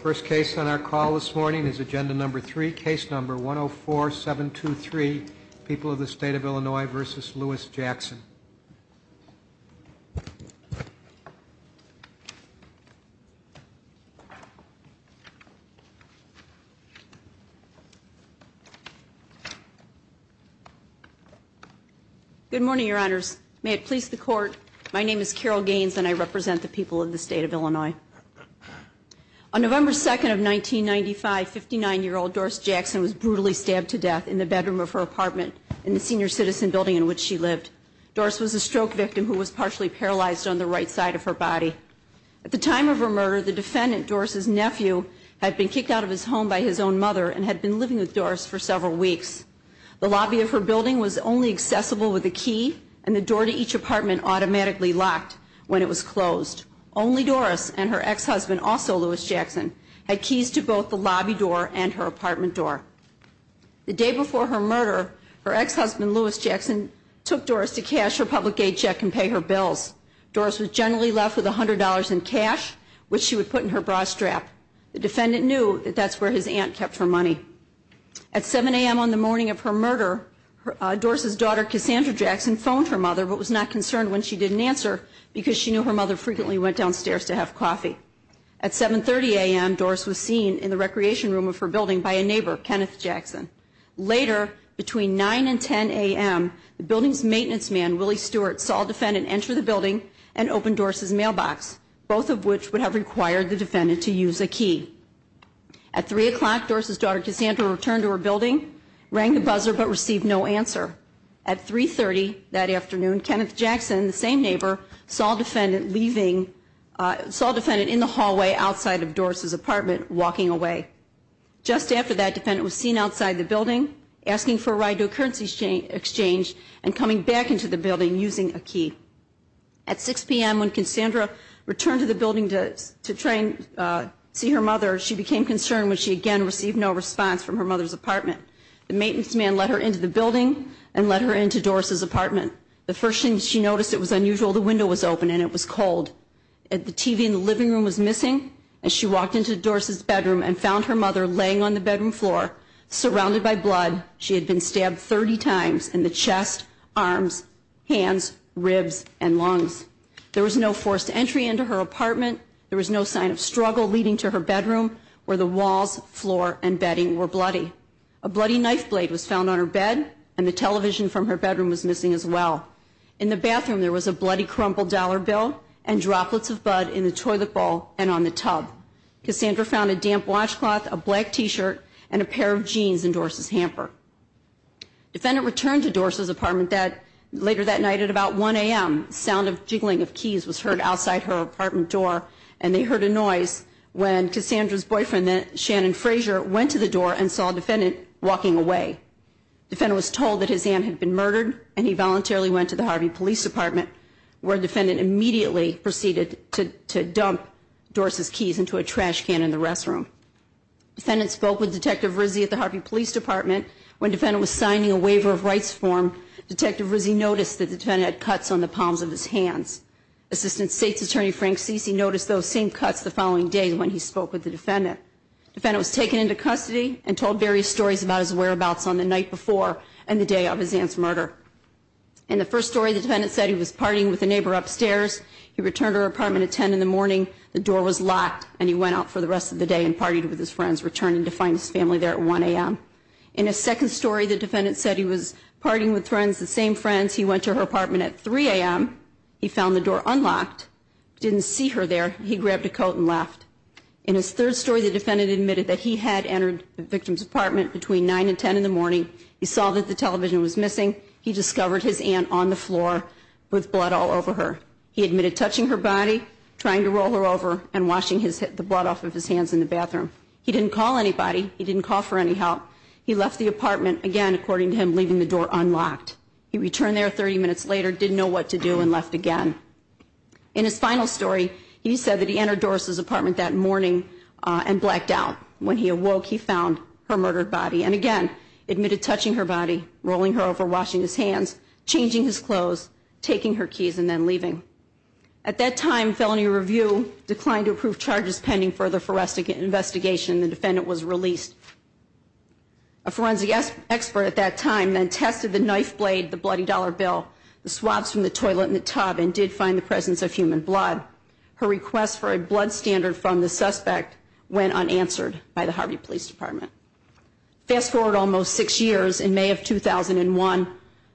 First case on our call this morning is Agenda Number 3, Case Number 104723, People of the State of Illinois v. Lewis Jackson. Good morning, Your Honors. May it please the Court, my name is Carol Gaines and I represent the people of the State of Illinois. On November 2nd of 1995, 59-year-old Doris Jackson was brutally stabbed to death in the bedroom of her apartment in the senior citizen building in which she lived. Doris was a stroke victim who was partially paralyzed on the right side of her body. At the time of her murder, the defendant, Doris's nephew, had been kicked out of his home by his own mother and had been living with Doris for several weeks. The lobby of her building was only accessible with a key and the door to each apartment automatically locked when it was closed. Only Doris and her ex-husband, also Lewis Jackson, had keys to both the lobby door and her apartment door. The day before her murder, her ex-husband, Lewis Jackson, took Doris to cash her public aid check and pay her bills. Doris was generally left with $100 in cash, which she would put in her bra strap. The defendant knew that that's where his aunt kept her money. At 7 a.m. on the morning of her murder, Doris's daughter, Cassandra Jackson, phoned her mother but was not concerned when she didn't answer because she knew her mother frequently went downstairs to have coffee. At 7.30 a.m., Doris was seen in the recreation room of her building by a neighbor, Kenneth Jackson. Later, between 9 and 10 a.m., the building's maintenance man, Willie Stewart, saw a defendant enter the building and open Doris's mailbox, both of which would have required the defendant to use a key. At 3 o'clock, Doris's daughter, Cassandra, returned to her building, rang the buzzer but received no answer. At 3.30 that afternoon, Kenneth Jackson, the same neighbor, saw a defendant in the hallway outside of Doris's apartment walking away. Just after that, the defendant was seen outside the building asking for a ride to a currency exchange and coming back into the building using a key. At 6 p.m. when Cassandra returned to the building to try and see her mother, she became concerned when she again received no response from her mother's apartment. The maintenance man let her into the building and let her into Doris's apartment. The first thing she noticed, it was unusual. The window was open and it was cold. The TV in the living room was missing and she walked into Doris's bedroom and found her mother laying on the bedroom floor, surrounded by blood. She had been stabbed 30 times in the chest, arms, hands, ribs, and lungs. There was no forced entry into her apartment. There was no sign of struggle leading to her bedroom where the walls, floor, and bedding were bloody. A bloody knife blade was found on her bed and the television from her bedroom was missing as well. In the bathroom, there was a bloody crumpled dollar bill and droplets of blood in the toilet bowl and on the tub. Cassandra found a damp washcloth, a black t-shirt, and a pair of jeans in Doris's hamper. Defendant returned to Doris's apartment later that night at about 1 a.m. The sound of jiggling of keys was heard outside her apartment door and they heard a noise when Cassandra's boyfriend, Shannon Frazier, went to the door and saw a defendant walking away. Defendant was told that his aunt had been murdered and he voluntarily went to the Harvey Police Department where defendant immediately proceeded to dump Doris's keys into a trash can in the restroom. Defendant spoke with Detective Rizzi at the Harvey Police Department. When defendant was signing a waiver of rights form, Detective Rizzi noticed that the defendant had cuts on the palms of his hands. Assistant State's Attorney, Frank Ceci, noticed those same cuts the following day when he spoke with the defendant. Defendant was taken into custody and told various stories about his whereabouts on the night before and the day of his aunt's murder. In the first story, the defendant said he was partying with a neighbor upstairs. He returned to her apartment at 10 in the morning. The door was locked and he went out for the rest of the day and partied with his friends, returning to find his family there at 1 a.m. In a second story, the defendant said he was partying with friends, the same friends. He went to her apartment at 3 a.m. He found the door unlocked, didn't see her there. He grabbed a coat and left. In his third story, the defendant admitted that he had entered the victim's apartment between 9 and 10 in the morning. He saw that the television was missing. He discovered his aunt on the floor with blood all over her. He admitted touching her body, trying to roll her over, and washing the blood off of his hands in the bathroom. He didn't call anybody. He didn't call for any help. He left the apartment, again, according to him, leaving the door unlocked. He returned there 30 minutes later, didn't know what to do, and left again. In his final story, he said that he entered Doris's apartment that morning and blacked out. When he awoke, he found her murdered body. And again, admitted touching her body, rolling her over, washing his hands, changing his clothes, taking her keys, and then leaving. At that time, felony review declined to approve charges pending further investigation. The defendant was released. A forensic expert at that time then tested the knife blade, the bloody dollar bill, the swabs from the toilet and the tub, and did find the presence of human blood. Her request for a blood standard from the suspect went unanswered by the Harvey Police Department. Fast forward almost six years. In May of 2001,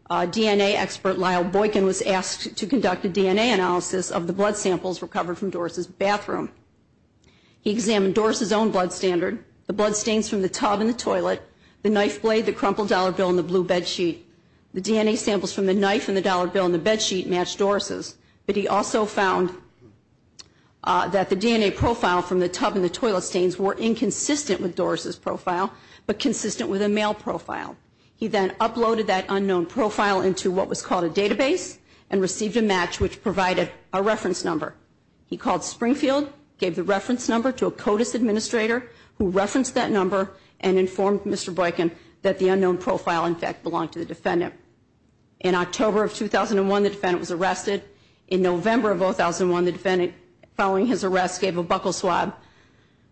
DNA expert Lyle Boykin was asked to conduct a DNA analysis of the blood samples recovered from Doris's bathroom. He examined Doris's own blood standard, the blood stains from the tub and the toilet, the knife blade, the crumpled dollar bill, and the blue bed sheet. The DNA samples from the knife and the dollar bill and the bed sheet matched Doris's. But he also found that the DNA profile from the tub and the toilet stains were inconsistent with Doris's profile, but consistent with a male profile. He then uploaded that unknown profile into what was called a database and received a match which provided a reference number. He called Springfield, gave the reference number to a CODIS administrator who referenced that number and informed Mr. Boykin that the unknown profile, in fact, belonged to the defendant. In October of 2001, the defendant was arrested. In November of 2001, the defendant, following his arrest, gave a buckle swab,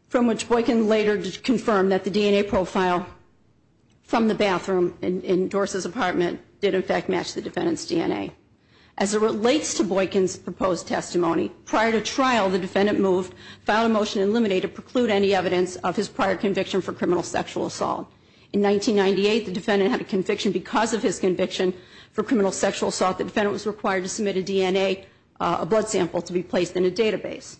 from which Boykin later confirmed that the DNA profile from the bathroom in Doris's apartment did, in fact, match the defendant's DNA. As it relates to Boykin's proposed testimony, prior to trial, the defendant moved, filed a motion in limine to preclude any evidence of his prior conviction for criminal sexual assault. In 1998, the defendant had a conviction because of his conviction for criminal sexual assault. The defendant was required to submit a DNA, a blood sample, to be placed in a database.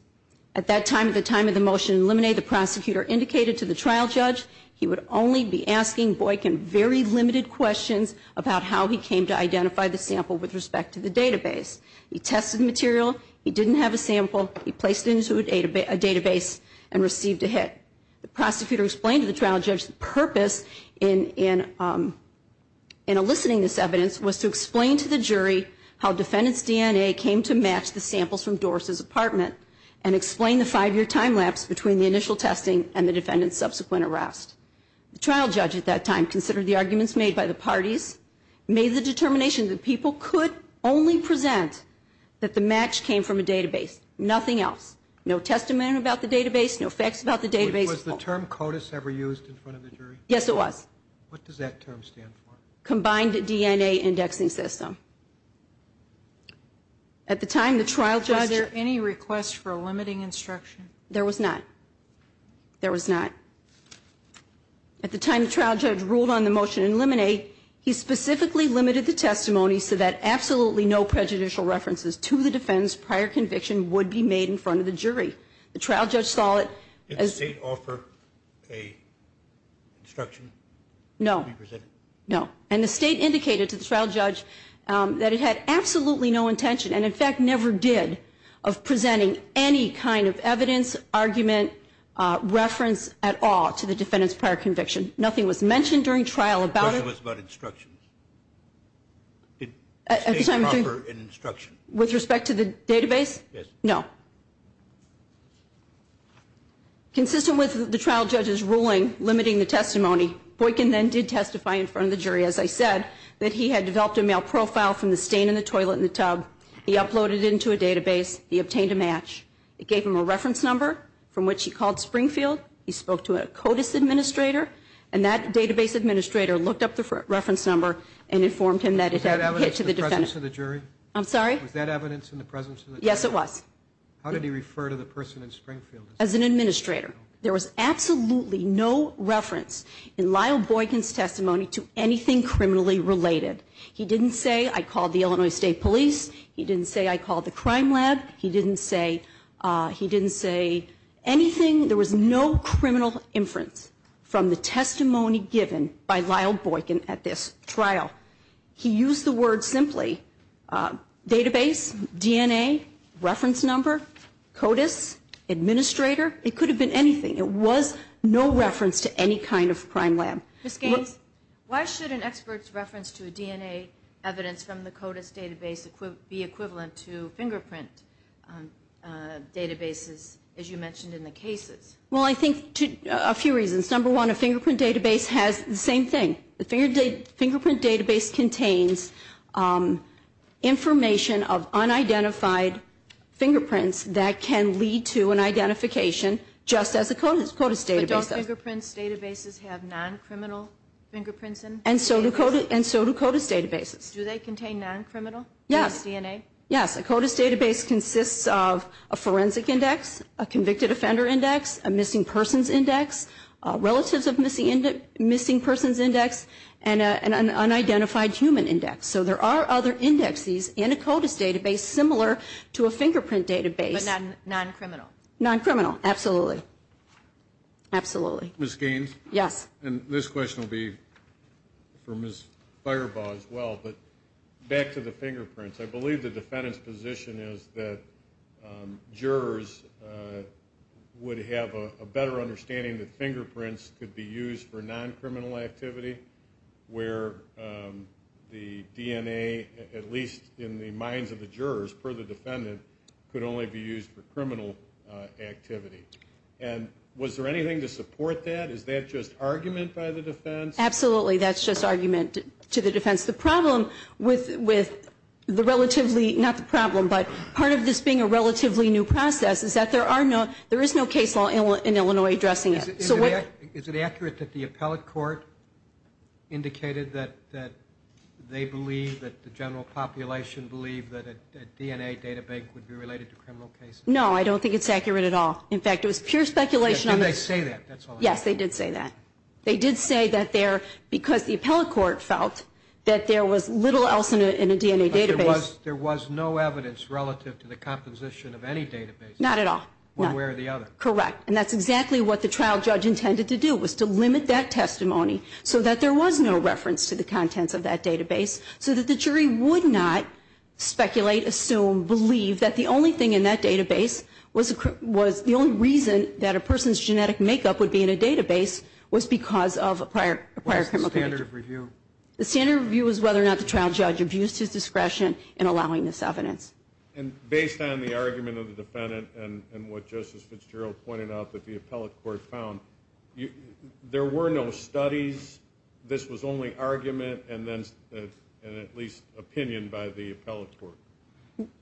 At that time, at the time of the motion in limine, the prosecutor indicated to the trial judge he would only be asking Boykin very limited questions about how he came to identify the sample with respect to the database. He tested the material. He didn't have a sample. He placed it into a database and received a hit. The prosecutor explained to the trial judge the purpose in eliciting this evidence was to explain to the jury how defendant's DNA came to match the samples from Doris's apartment and explain the five year time lapse between the initial testing and the defendant's subsequent arrest. The trial judge at that time considered the arguments made by the parties, made the determination that people could only present that the match came from a database, nothing else. No testimony about the database, no facts about the database. Was the term CODIS ever used in front of the jury? Yes, it was. What does that term stand for? Combined DNA indexing system. At the time, the trial judge- Any request for a limiting instruction? There was not. There was not. At the time, the trial judge ruled on the motion in limine. He specifically limited the testimony so that absolutely no prejudicial references to the defendant's prior conviction would be made in front of the jury. The trial judge saw it as- Did the state offer a instruction? No. No. And the state indicated to the trial judge that it had absolutely no intention, and in fact never did, of presenting any kind of evidence, argument, reference at all to the defendant's prior conviction. Nothing was mentioned during trial about it. The question was about instructions. Did the state offer an instruction? With respect to the database? Yes. No. Consistent with the trial judge's ruling limiting the testimony, Boykin then did testify in front of the jury, as I said, that he had developed a male profile from the stain in the toilet and the tub. He uploaded it into a database. He obtained a match. It gave him a reference number from which he called Springfield. He spoke to a CODIS administrator, and that database administrator looked up the reference number and informed him that it had- Was that evidence in the presence of the jury? I'm sorry? Was that evidence in the presence of the jury? Yes, it was. How did he refer to the person in Springfield? As an administrator. There was absolutely no reference in Lyle Boykin's testimony to anything criminally related. He didn't say, I called the Illinois State Police. He didn't say, I called the crime lab. He didn't say, he didn't say anything. There was no criminal inference from the testimony given by Lyle Boykin at this trial. He used the word simply, database, DNA, reference number, CODIS administrator. It could have been anything. It was no reference to any kind of crime lab. Ms. Gaines, why should an expert's reference to a DNA evidence from the CODIS database be equivalent to fingerprint databases, as you mentioned in the cases? Well, I think a few reasons. Number one, a fingerprint database has the same thing. The fingerprint database contains information of unidentified fingerprints that can lead to an identification just as a CODIS database does. But don't fingerprint databases have non-criminal fingerprints? And so do CODIS databases. Do they contain non-criminal? Yes. DNA? Yes. A CODIS database consists of a forensic index, a convicted offender index, a missing persons index, relatives of missing persons index, and an unidentified human index. So there are other indexes in a CODIS database similar to a fingerprint database. But non-criminal? Non-criminal. Absolutely. Absolutely. Ms. Gaines? Yes. And this question will be for Ms. Firebaugh as well, but back to the fingerprints. I believe the defendant's position is that jurors would have a better understanding that fingerprints could be used for non-criminal activity where the DNA, at least in the minds of the jurors per the defendant, could only be used for criminal activity. And was there anything to support that? Is that just argument by the defense? Absolutely. That's just argument to the defense. The problem with the relatively, not the problem, but part of this being a relatively new process, is that there is no case law in Illinois addressing it. Is it accurate that the appellate court indicated that they believe, that the general population believe, that a DNA database would be related to criminal cases? No, I don't think it's accurate at all. In fact, it was pure speculation. Did they say that? Yes, they did say that. They did say that there, because the appellate court felt that there was little else in a DNA database. There was no evidence relative to the composition of any database. Not at all. One way or the other. Correct. And that's exactly what the trial judge intended to do, was to limit that testimony so that there was no reference to the contents of that database, so that the jury would not speculate, assume, believe that the only thing in that database was the only reason that a person's genetic makeup would be in a database, was because of a prior criminal case. What's the standard of review? The standard of review is whether or not the trial judge abused his discretion in allowing this evidence. And based on the argument of the defendant and what Justice Fitzgerald pointed out that the appellate court found, there were no studies, this was only argument and then at least opinion by the appellate court.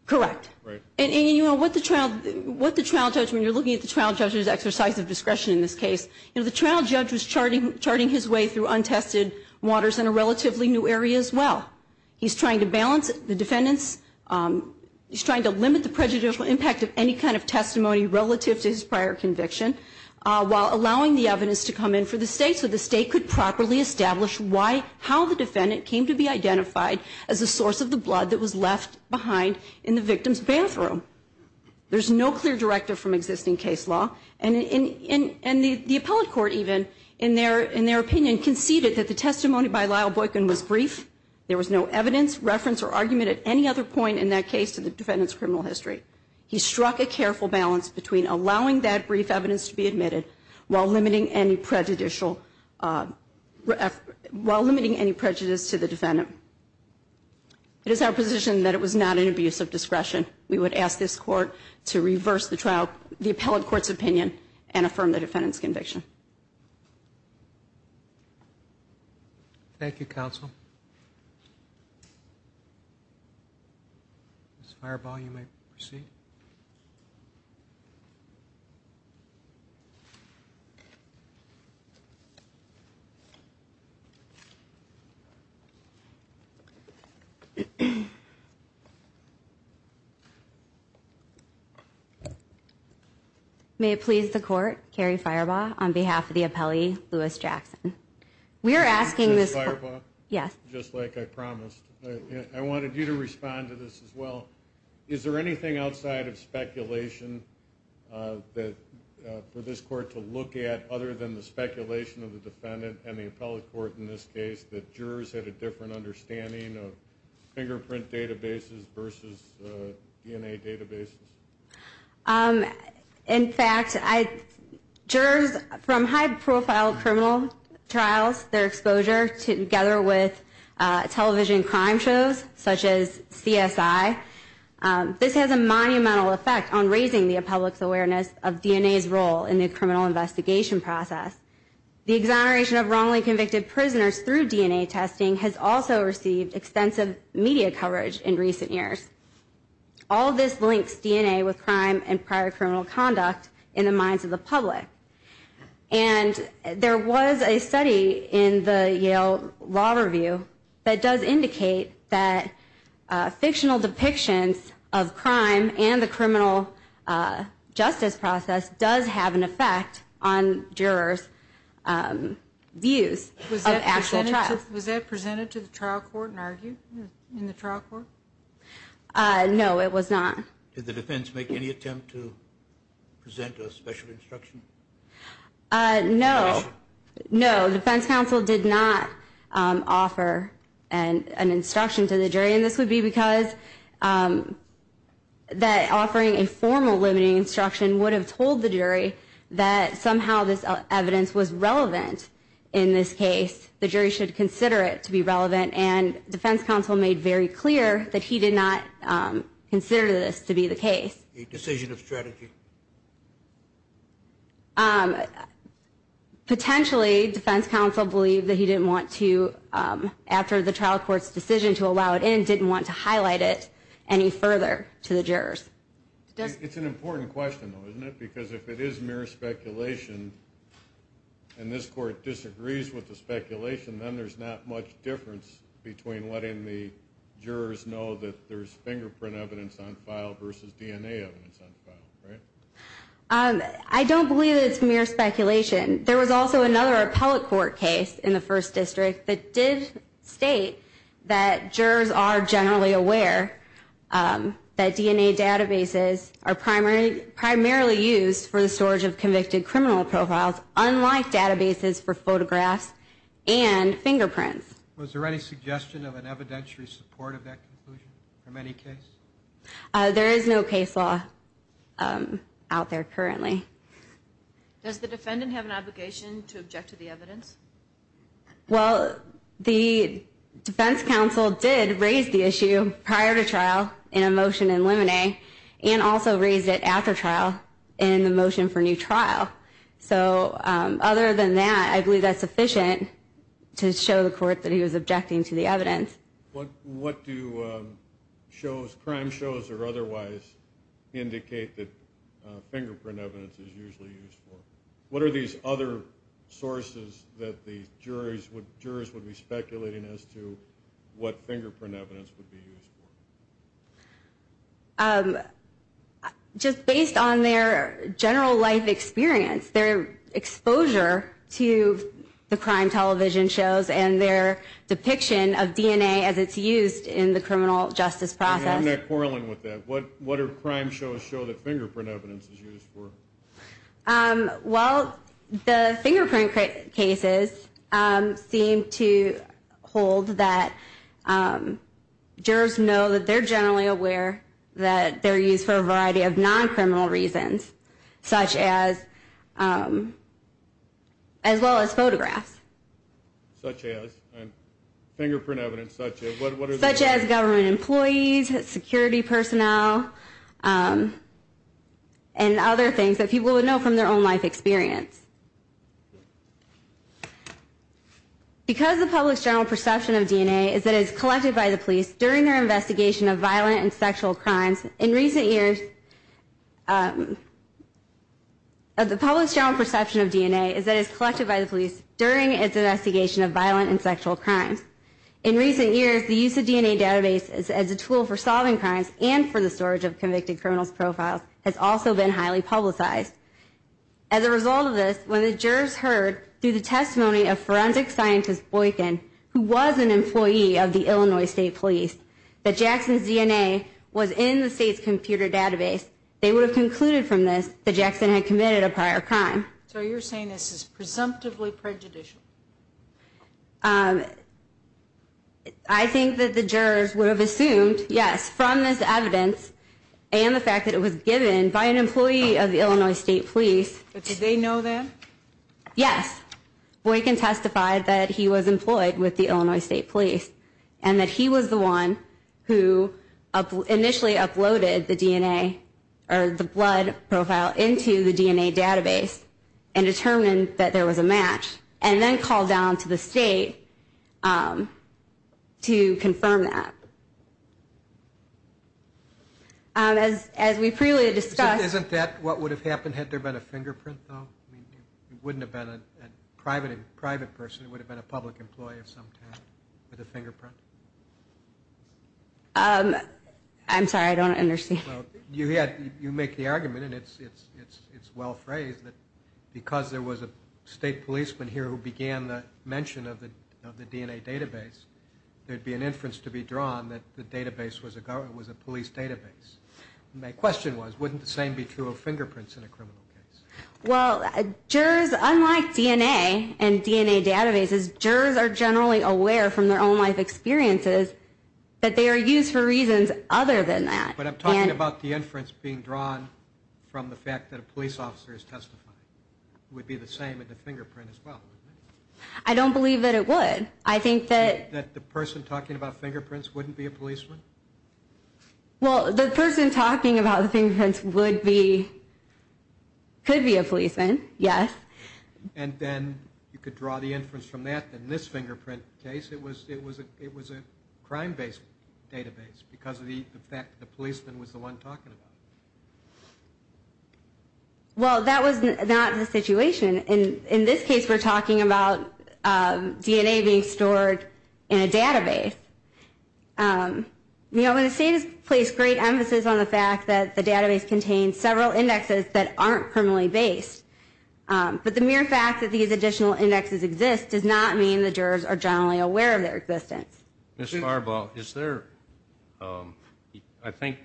Correct. Right. And what the trial judge, when you're looking at the trial judge's exercise of discretion in this case, the trial judge was charting his way through untested waters in a relatively new area as well. He's trying to balance the defendant's, he's trying to limit the prejudicial impact of any kind of testimony relative to his prior conviction, while allowing the evidence to come in for the state, so the state could properly establish how the defendant came to be identified as a source of the blood that was left behind in the victim's bathroom. There's no clear directive from existing case law and the appellate court even, in their opinion, conceded that the testimony by Lyle Boykin was brief, there was no evidence, reference or argument at any other point in that case to the defendant's criminal history. He struck a careful balance between allowing that brief evidence to be admitted while limiting any prejudicial, while limiting any prejudice to the defendant. It is our position that it was not an abuse of discretion. We would ask this court to reverse the trial, the appellate court's opinion and affirm the defendant's conviction. Thank you, counsel. Ms. Firebaugh, you may proceed. May it please the court, Carrie Firebaugh, on behalf of the appellee, Lewis Jackson. Ms. Firebaugh, just like I promised, I wanted you to respond to this as well. Is there anything outside of speculation for this court to look at other than the speculation of the defendant and the appellate court in this case, that jurors had a different understanding of fingerprint databases versus DNA databases? In fact, jurors from high-profile criminal trials, their exposure together with television crime shows, such as CSI, this has a monumental effect on raising the appellate's awareness of DNA's role in the criminal investigation process. The exoneration of wrongly convicted prisoners through DNA testing has also received extensive media coverage in recent years. All of this links DNA with crime and prior criminal conduct in the minds of the public. There was a study in the Yale Law Review that does indicate that fictional depictions of crime and the criminal justice process does have an effect on jurors' views of actual trials. Was that presented to the trial court and argued in the trial court? No, it was not. Did the defense make any attempt to present a special instruction? No. No, the defense counsel did not offer an instruction to the jury, and this would be because that offering a formal limiting instruction would have told the jury that somehow this evidence was relevant in this case. The jury should consider it to be relevant, and defense counsel made very clear that he did not consider this to be the case. A decision of strategy? Potentially, defense counsel believed that he didn't want to, after the trial court's decision to allow it in, didn't want to highlight it any further to the jurors. It's an important question, though, isn't it? Because if it is mere speculation and this court disagrees with the speculation, then there's not much difference between letting the jurors know that there's fingerprint evidence on file versus DNA evidence on file. I don't believe it's mere speculation. There was also another appellate court case in the First District that did state that jurors are generally aware that DNA databases are primarily used for the storage of convicted criminal profiles, unlike databases for photographs and fingerprints. Was there any suggestion of an evidentiary support of that conclusion from any case? There is no case law out there currently. Does the defendant have an obligation to object to the evidence? Well, the defense counsel did raise the issue prior to trial in a motion in limine, and also raised it after trial in the motion for new trial. So, other than that, I believe that's sufficient to show the court that he was objecting to the evidence. What do crime shows or otherwise indicate that fingerprint evidence is usually used for? What are these other sources that the jurors would be speculating as to what fingerprint evidence would be used for? Just based on their general life experience, their exposure to the crime television shows and their depiction of DNA as it's used in the criminal justice process. What do crime shows show that fingerprint evidence is used for? Well, the fingerprint cases seem to hold that jurors know that they're generally aware that they're used for a variety of non-criminal reasons, such as as well as photographs. Such as? Fingerprint evidence such as? Such as government employees, security personnel, and other things that people would know from their own life experience. Because the public's general perception of DNA is that it's collected by the police during their investigation of violent and sexual crimes, in recent years the public's general perception of DNA is that it's collected by the police during its investigation of violent and sexual crimes. In recent years, the use of DNA databases as a tool for solving crimes and for the storage of convicted criminals' profiles has also been highly publicized. As a result of this, when the jurors heard through the testimony of forensic scientist Boykin, who was an employee of the Illinois State Police, that Jackson's DNA was in the state's computer database, they would have concluded from this that Jackson had committed a prior crime. So you're saying this is presumptively prejudicial? I think that the jurors would have assumed, yes, from this evidence and the fact that it was given by an employee of the Illinois State Police. But did they know that? Yes. Boykin testified that he was employed with the Illinois State Police and that he was the one who initially uploaded the DNA, or the blood profile into the DNA database and determined that there was a match and then called down to the state to confirm that. As we previously discussed... Isn't that what would have happened had there been a fingerprint, though? It wouldn't have been a private person, it would have been a public employee of some type with a fingerprint. I'm sorry, I don't understand. You make the argument, and it's well phrased, that because there was a state policeman here who began the mention of the DNA database, there'd be an inference to be drawn that the database was a police database. My question was, wouldn't the same be true of fingerprints in a criminal case? Well, jurors, unlike DNA and DNA databases, jurors are generally aware from their own life experiences that they are used for reasons other than that. But I'm talking about the inference being drawn from the fact that a police officer is testifying. It would be the same in the fingerprint as well, wouldn't it? I don't believe that it would. That the person talking about fingerprints wouldn't be a policeman? Well, the person talking about the fingerprints would be... could be a policeman, yes. And then you could draw the inference from that that in this fingerprint case, it was a crime-based database because of the fact that the policeman was the one talking about it. Well, that was not the situation. In this case, we're talking about DNA being stored in a database. The state has placed great emphasis on the fact that the database contains several indexes that aren't criminally based. But the mere fact that these additional indexes exist does not mean the jurors are generally aware of their existence. Ms. Farbaugh, is there...I think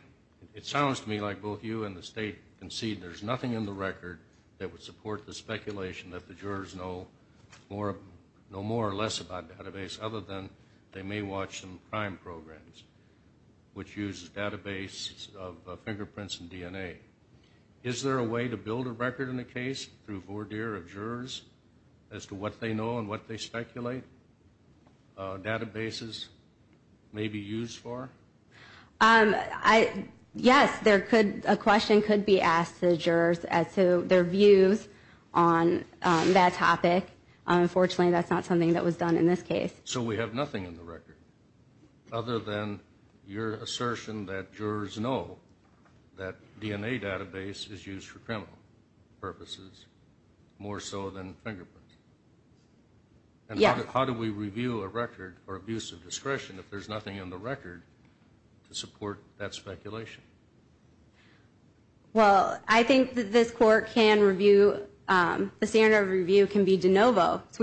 it sounds to me like both you and the state concede there's nothing in the record that would support the speculation that the jurors know more or less about a database other than they may watch some crime programs, which uses databases of fingerprints and DNA. Is there a way to build a record in a case through voir dire of jurors as to what they know and what they speculate databases may be used for? Yes, there could...a question could be asked about their views on that topic. Unfortunately, that's not something that was done in this case. So we have nothing in the record other than your assertion that jurors know that DNA database is used for criminal purposes more so than fingerprints? Yes. And how do we review a record for abuse of discretion if there's nothing in the record to support that speculation? Well, I think that this court can review the standard of review can be de novo. So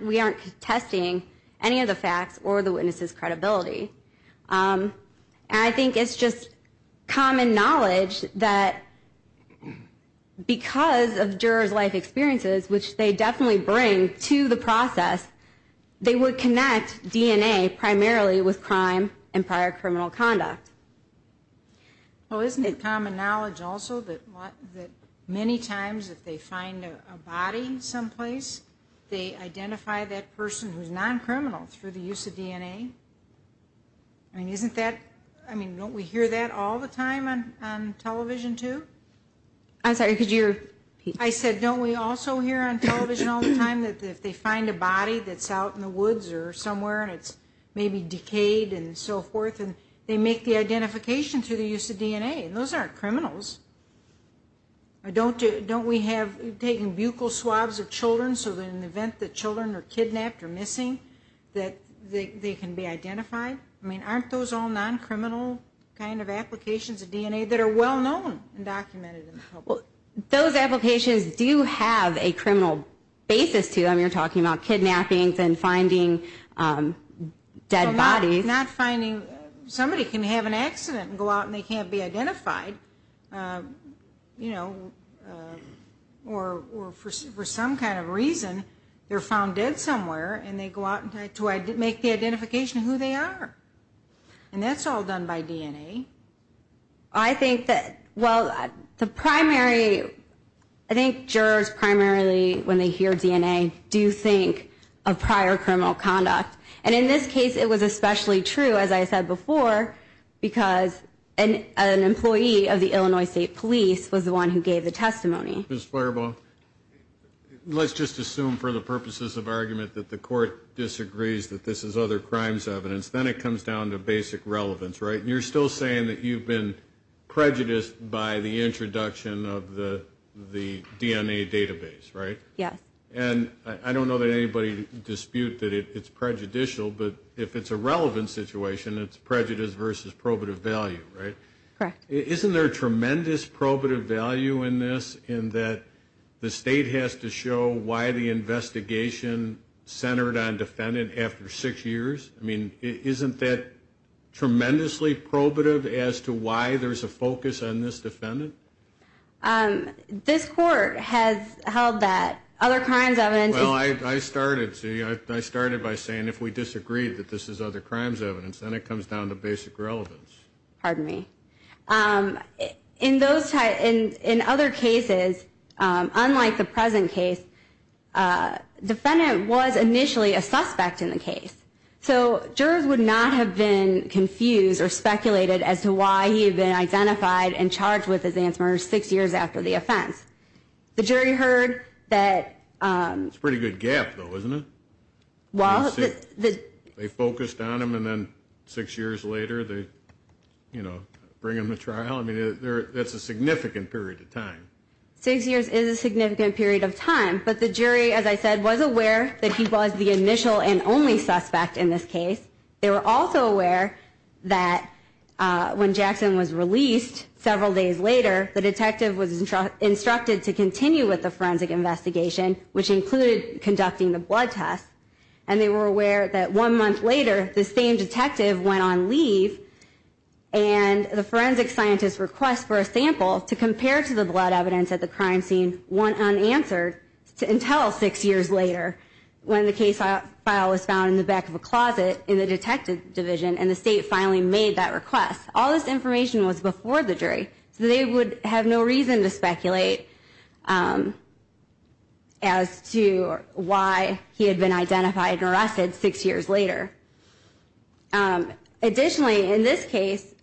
we aren't testing any of the facts or the witness's credibility. I think it's just common knowledge that because of jurors' life experiences which they definitely bring to the process, they would connect DNA primarily with crime and prior criminal conduct. Well, isn't it common knowledge also that many times if they find a body someplace they identify that person who's non-criminal through the use of DNA? I mean, isn't that...don't we hear that all the time on television too? I said don't we also hear on television all the time that if they find a body that's out in the woods or somewhere and it's maybe decayed and so forth and they make the identification through the use of DNA. And those aren't criminals. Don't we have taking buccal swabs of children so that in the event that children are kidnapped or missing that they can be identified? I mean, aren't those all non-criminal kind of applications of DNA that are well known and documented in the public? Those applications do have a criminal basis to them. You're talking about kidnappings and finding dead bodies. Not finding...somebody can have an accident and go out and they can't be identified you know, or for some kind of reason they're found dead somewhere and they go out to make the identification of who they are. And that's all done by DNA. I think that, well, the primary I think jurors primarily when they hear DNA do think of prior criminal conduct. And in this case it was especially true as I said before because an employee of the Illinois State Police was the one who gave the testimony. Let's just assume for the purposes of argument that the court disagrees that this is other crimes evidence. Then it comes down to basic relevance right? You're still saying that you've been prejudiced by the introduction of the DNA database, right? Yes. And I don't know that anybody disputes that it's prejudicial but if it's a relevant situation it's prejudice versus probative value, right? Correct. Isn't there tremendous probative value in this in that the state has to show why the investigation centered on defendant after six years? I mean isn't that tremendously probative as to why there's a focus on this defendant? This court has held that other crimes evidence Well I started, see, I started by saying if we disagree that this is other crimes evidence then it comes down to basic relevance. Pardon me. In those other cases, unlike the present case defendant was initially a suspect in the case. So jurors would not have been confused or speculated as to why he had been identified and charged with his answer six years after the offense. The jury heard that It's a pretty good gap though, isn't it? They focused on him and then six years later they, you know, bring him to trial. I mean that's a significant period of time. Six years is a significant period of time. But the jury, as I said, was aware that he was the initial and only suspect in this case. They were also aware that when Jackson was released several days later the detective was instructed to continue with the forensic investigation which included conducting the blood test. And they were aware that one month later the same detective went on leave and the forensic scientist's request for a sample to compare to the blood evidence at the crime scene went unanswered until six years later when the case file was found in the back of a closet in the detective division and the state finally made that request. All this information was before the jury. So they would have no reason to speculate as to why he had been identified and arrested six years later. Additionally in this case,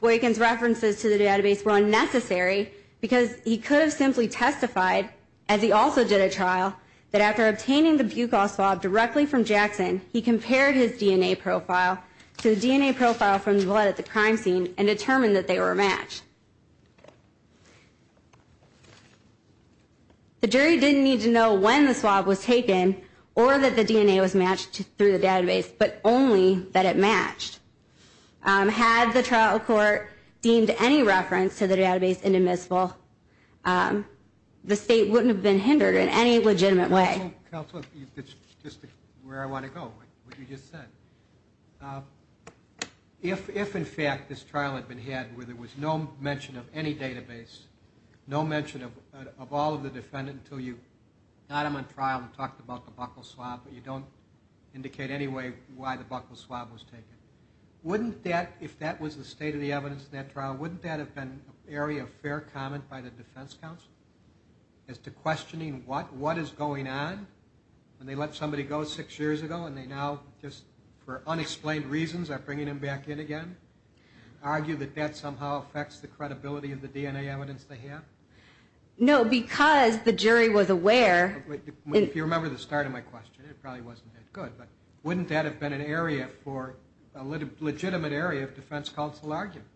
Boykin's references to the database were unnecessary because he could have simply testified, as he also did at trial, that after obtaining the buccal swab directly from Jackson he compared his DNA profile to the DNA profile from the blood at the crime scene and determined that they were matched. The jury didn't need to know when the swab was taken or that the DNA was matched through the database, but only that it matched. Had the trial court deemed any reference to the database inadmissible the state wouldn't have been hindered in any legitimate way. Counselor, it's just where I want to go with what you just said. If in fact this trial had been had where there was no mention of any database, no mention of all of the defendant until you got him on trial and talked about the buccal swab but you don't indicate any way why the buccal swab was taken wouldn't that, if that was the state of the evidence in that trial, wouldn't that have been an area of fair comment by the defense counsel as to why the defendant, when they let somebody go six years ago and they now for unexplained reasons are bringing him back in again, argue that that somehow affects the credibility of the DNA evidence they have? No, because the jury was aware If you remember the start of my question, it probably wasn't that good, but wouldn't that have been an area for a legitimate area of defense counsel argument?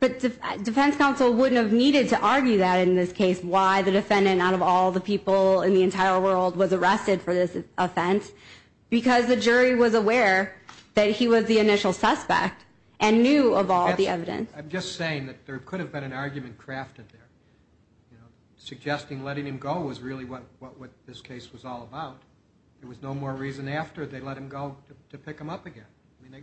But defense counsel wouldn't have needed to argue that in this case why the defendant out of all the people in the entire world was arrested for this offense because the jury was aware that he was the initial suspect and knew of all the evidence. I'm just saying that there could have been an argument crafted there. Suggesting letting him go was really what this case was all about. There was no more reason after they let him go to pick him up again.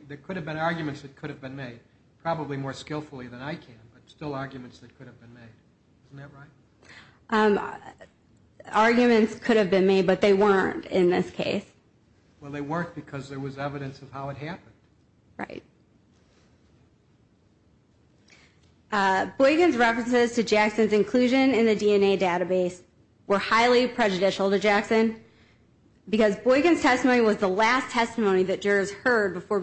There could have been arguments that could have been made, probably more skillfully than I can, but still arguments that could have been made. Isn't that right? Arguments could have been made, but they weren't in this case. Well they weren't because there was evidence of how it happened. Right. Boykin's references to Jackson's inclusion in the DNA database were highly prejudicial to Jackson because Boykin's testimony was the last testimony that jurors heard numerous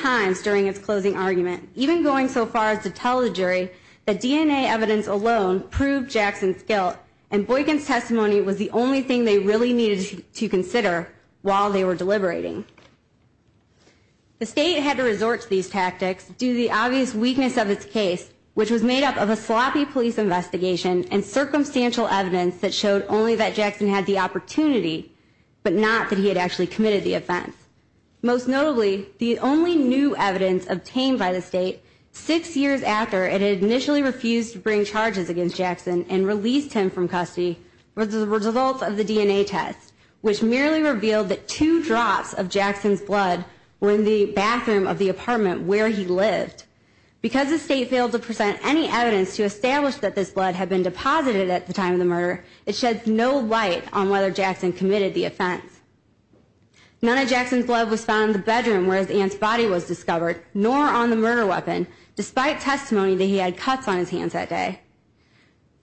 times during its closing argument, even going so far as to tell the jury that DNA evidence alone proved Jackson's guilt and Boykin's testimony was the only thing they really needed to consider while they were deliberating. The state had to resort to these tactics due to the obvious weakness of its case, which was made up of a sloppy police investigation and circumstantial evidence that showed only that Jackson had the opportunity, but not that he had actually committed the offense. Most notably, the only new evidence obtained by the state six years after it had initially refused to bring charges against Jackson and released him from custody were the results of the DNA test, which merely revealed that two drops of Jackson's blood were in the bathroom of the apartment where he lived. Because the state failed to present any evidence to establish that this blood had been deposited at the time of the murder, it sheds no light on whether Jackson committed the offense. None of Jackson's blood was found in the bedroom where his aunt's body was discovered, nor on the murder weapon, despite testimony that he had cuts on his hands that day.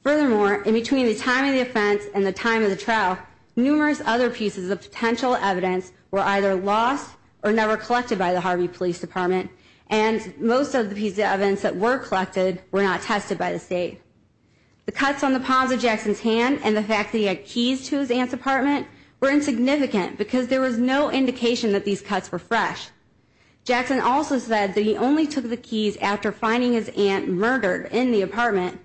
Furthermore, in between the time of the offense and the time of the trial, numerous other pieces of potential evidence were either lost or never collected by the Harvey Police Department, and most of the pieces of evidence that were collected were not tested by the state. The cuts on the palms of Jackson's hand and the fact that he had keys to his aunt's apartment were insignificant because there was no indication that these cuts were fresh. Jackson also said that he only took the keys after finding his aunt murdered in the apartment,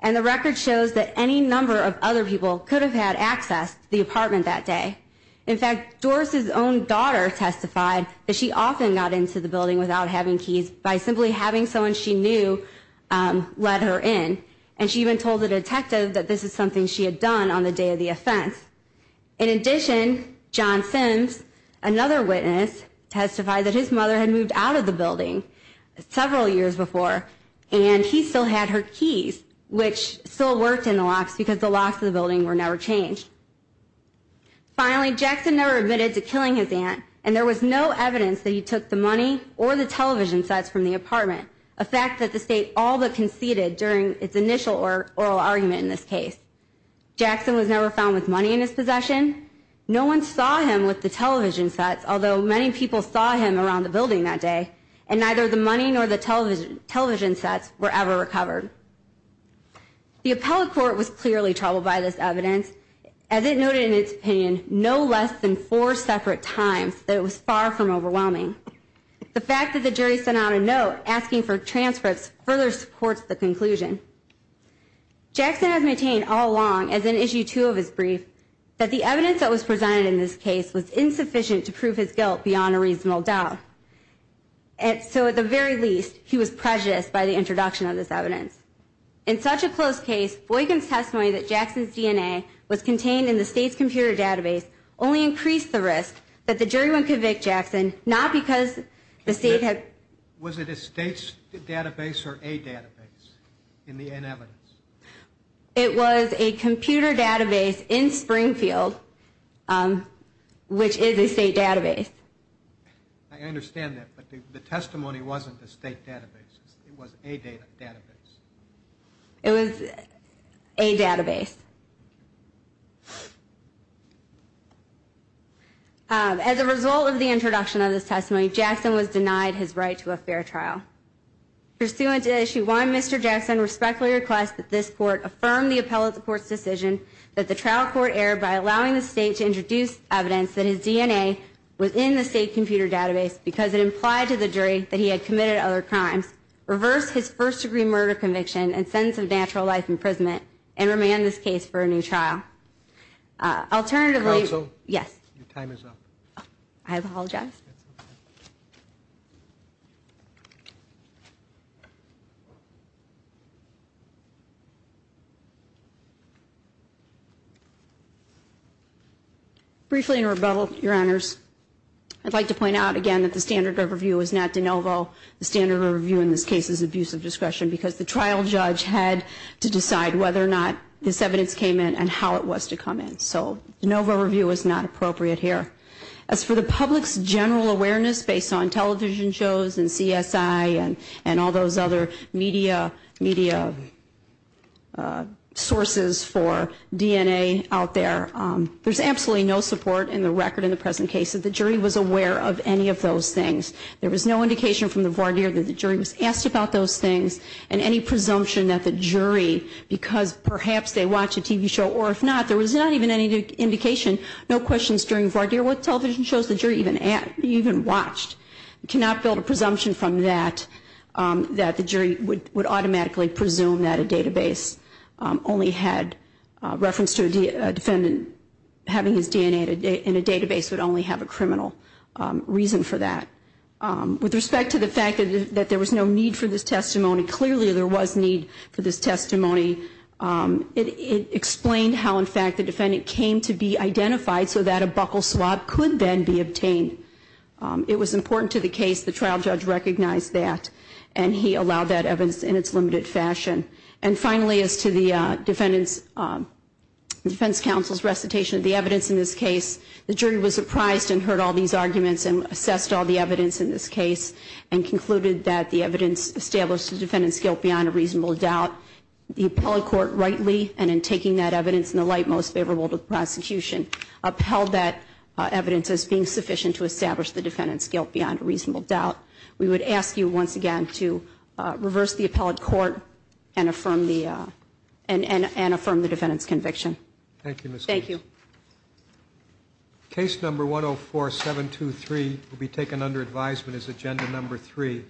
and the record shows that any number of other people could have had access to the apartment that day. In fact, Doris's own daughter testified that she often got into the building without having keys by simply having someone she knew let her in, and she even told the detective that this is something she had done on the day of the offense. In addition, John Simms, another witness, testified that his mother had moved out of the building several years before, and he still had her keys, which still worked in the locks because the locks of the building were never changed. Finally, Jackson never admitted to killing his aunt, and there was no evidence that he took the money or the television sets from the apartment, a fact that the state all but conceded during its initial oral argument in this case. Jackson was never found with money in his possession. No one saw him with the television sets, although many people saw him around the building that day, and neither the money nor the television sets were ever recovered. The appellate court was clearly troubled by this evidence. As it noted in its opinion, no less than four separate times that it was far from overwhelming. The fact that the jury sent out a note asking for transcripts further supports the conclusion. Jackson has maintained all along, as in issue two of his brief, that the evidence that was presented in this case was insufficient to prove his guilt beyond a reasonable doubt. At the very least, he was prejudiced by the introduction of this evidence. In such a close case, Boykin's testimony that Jackson's DNA was contained in the state's computer database only increased the risk that the jury would convict Jackson, not because the state had... in the evidence. It was a computer database in Springfield, which is a state database. I understand that, but the testimony wasn't a state database. It was a database. It was a database. As a result of the introduction of this testimony, Jackson was denied his right to a fair trial. Pursuant to issue one, Mr. Jackson respectfully requests that this court affirm the appellate court's decision that the trial court err by allowing the state to introduce evidence that his DNA was in the state computer database because it implied to the jury that he had committed other crimes, reverse his first degree murder conviction and sentence of natural life imprisonment, and remand this case for a new trial. Alternatively... Counsel? Yes. Your time is up. I apologize. Briefly, in rebuttal, your honors, I'd like to point out again that the standard overview is not de novo. The standard overview in this case is abuse of discretion because the trial judge had to decide whether or not this evidence came in and how it was to come in. So, de novo review is not appropriate here. As for the public's general awareness based on television shows and CSI and other sources of information, and all those other media sources for DNA out there, there's absolutely no support in the record in the present case that the jury was aware of any of those things. There was no indication from the voir dire that the jury was asked about those things and any presumption that the jury, because perhaps they watched a TV show or if not, there was not even any indication, no questions during voir dire what television shows the jury even watched. You cannot build a presumption from that that the jury would automatically presume that a database only had reference to a defendant having his DNA in a database would only have a criminal reason for that. With respect to the fact that there was no need for this testimony, clearly there was need for this testimony. It explained how, in fact, the defendant came to be identified so that a buckle swap could then be obtained. It was important to the case. The trial judge recognized that and he allowed that evidence in its limited fashion. And finally, as to the defendant's defense counsel's recitation of the evidence in this case, the jury was surprised and heard all these arguments and assessed all the evidence in this case and concluded that the evidence established the defendant's guilt beyond a reasonable doubt. The appellate court rightly, and in taking that evidence in the light most favorable to the prosecution, upheld that evidence as being sufficient to establish the defendant's guilt beyond a reasonable doubt. We would ask you once again to reverse the appellate court and affirm the defendant's conviction. Thank you. Case number 104-723 will be taken under advisement as agenda number 3.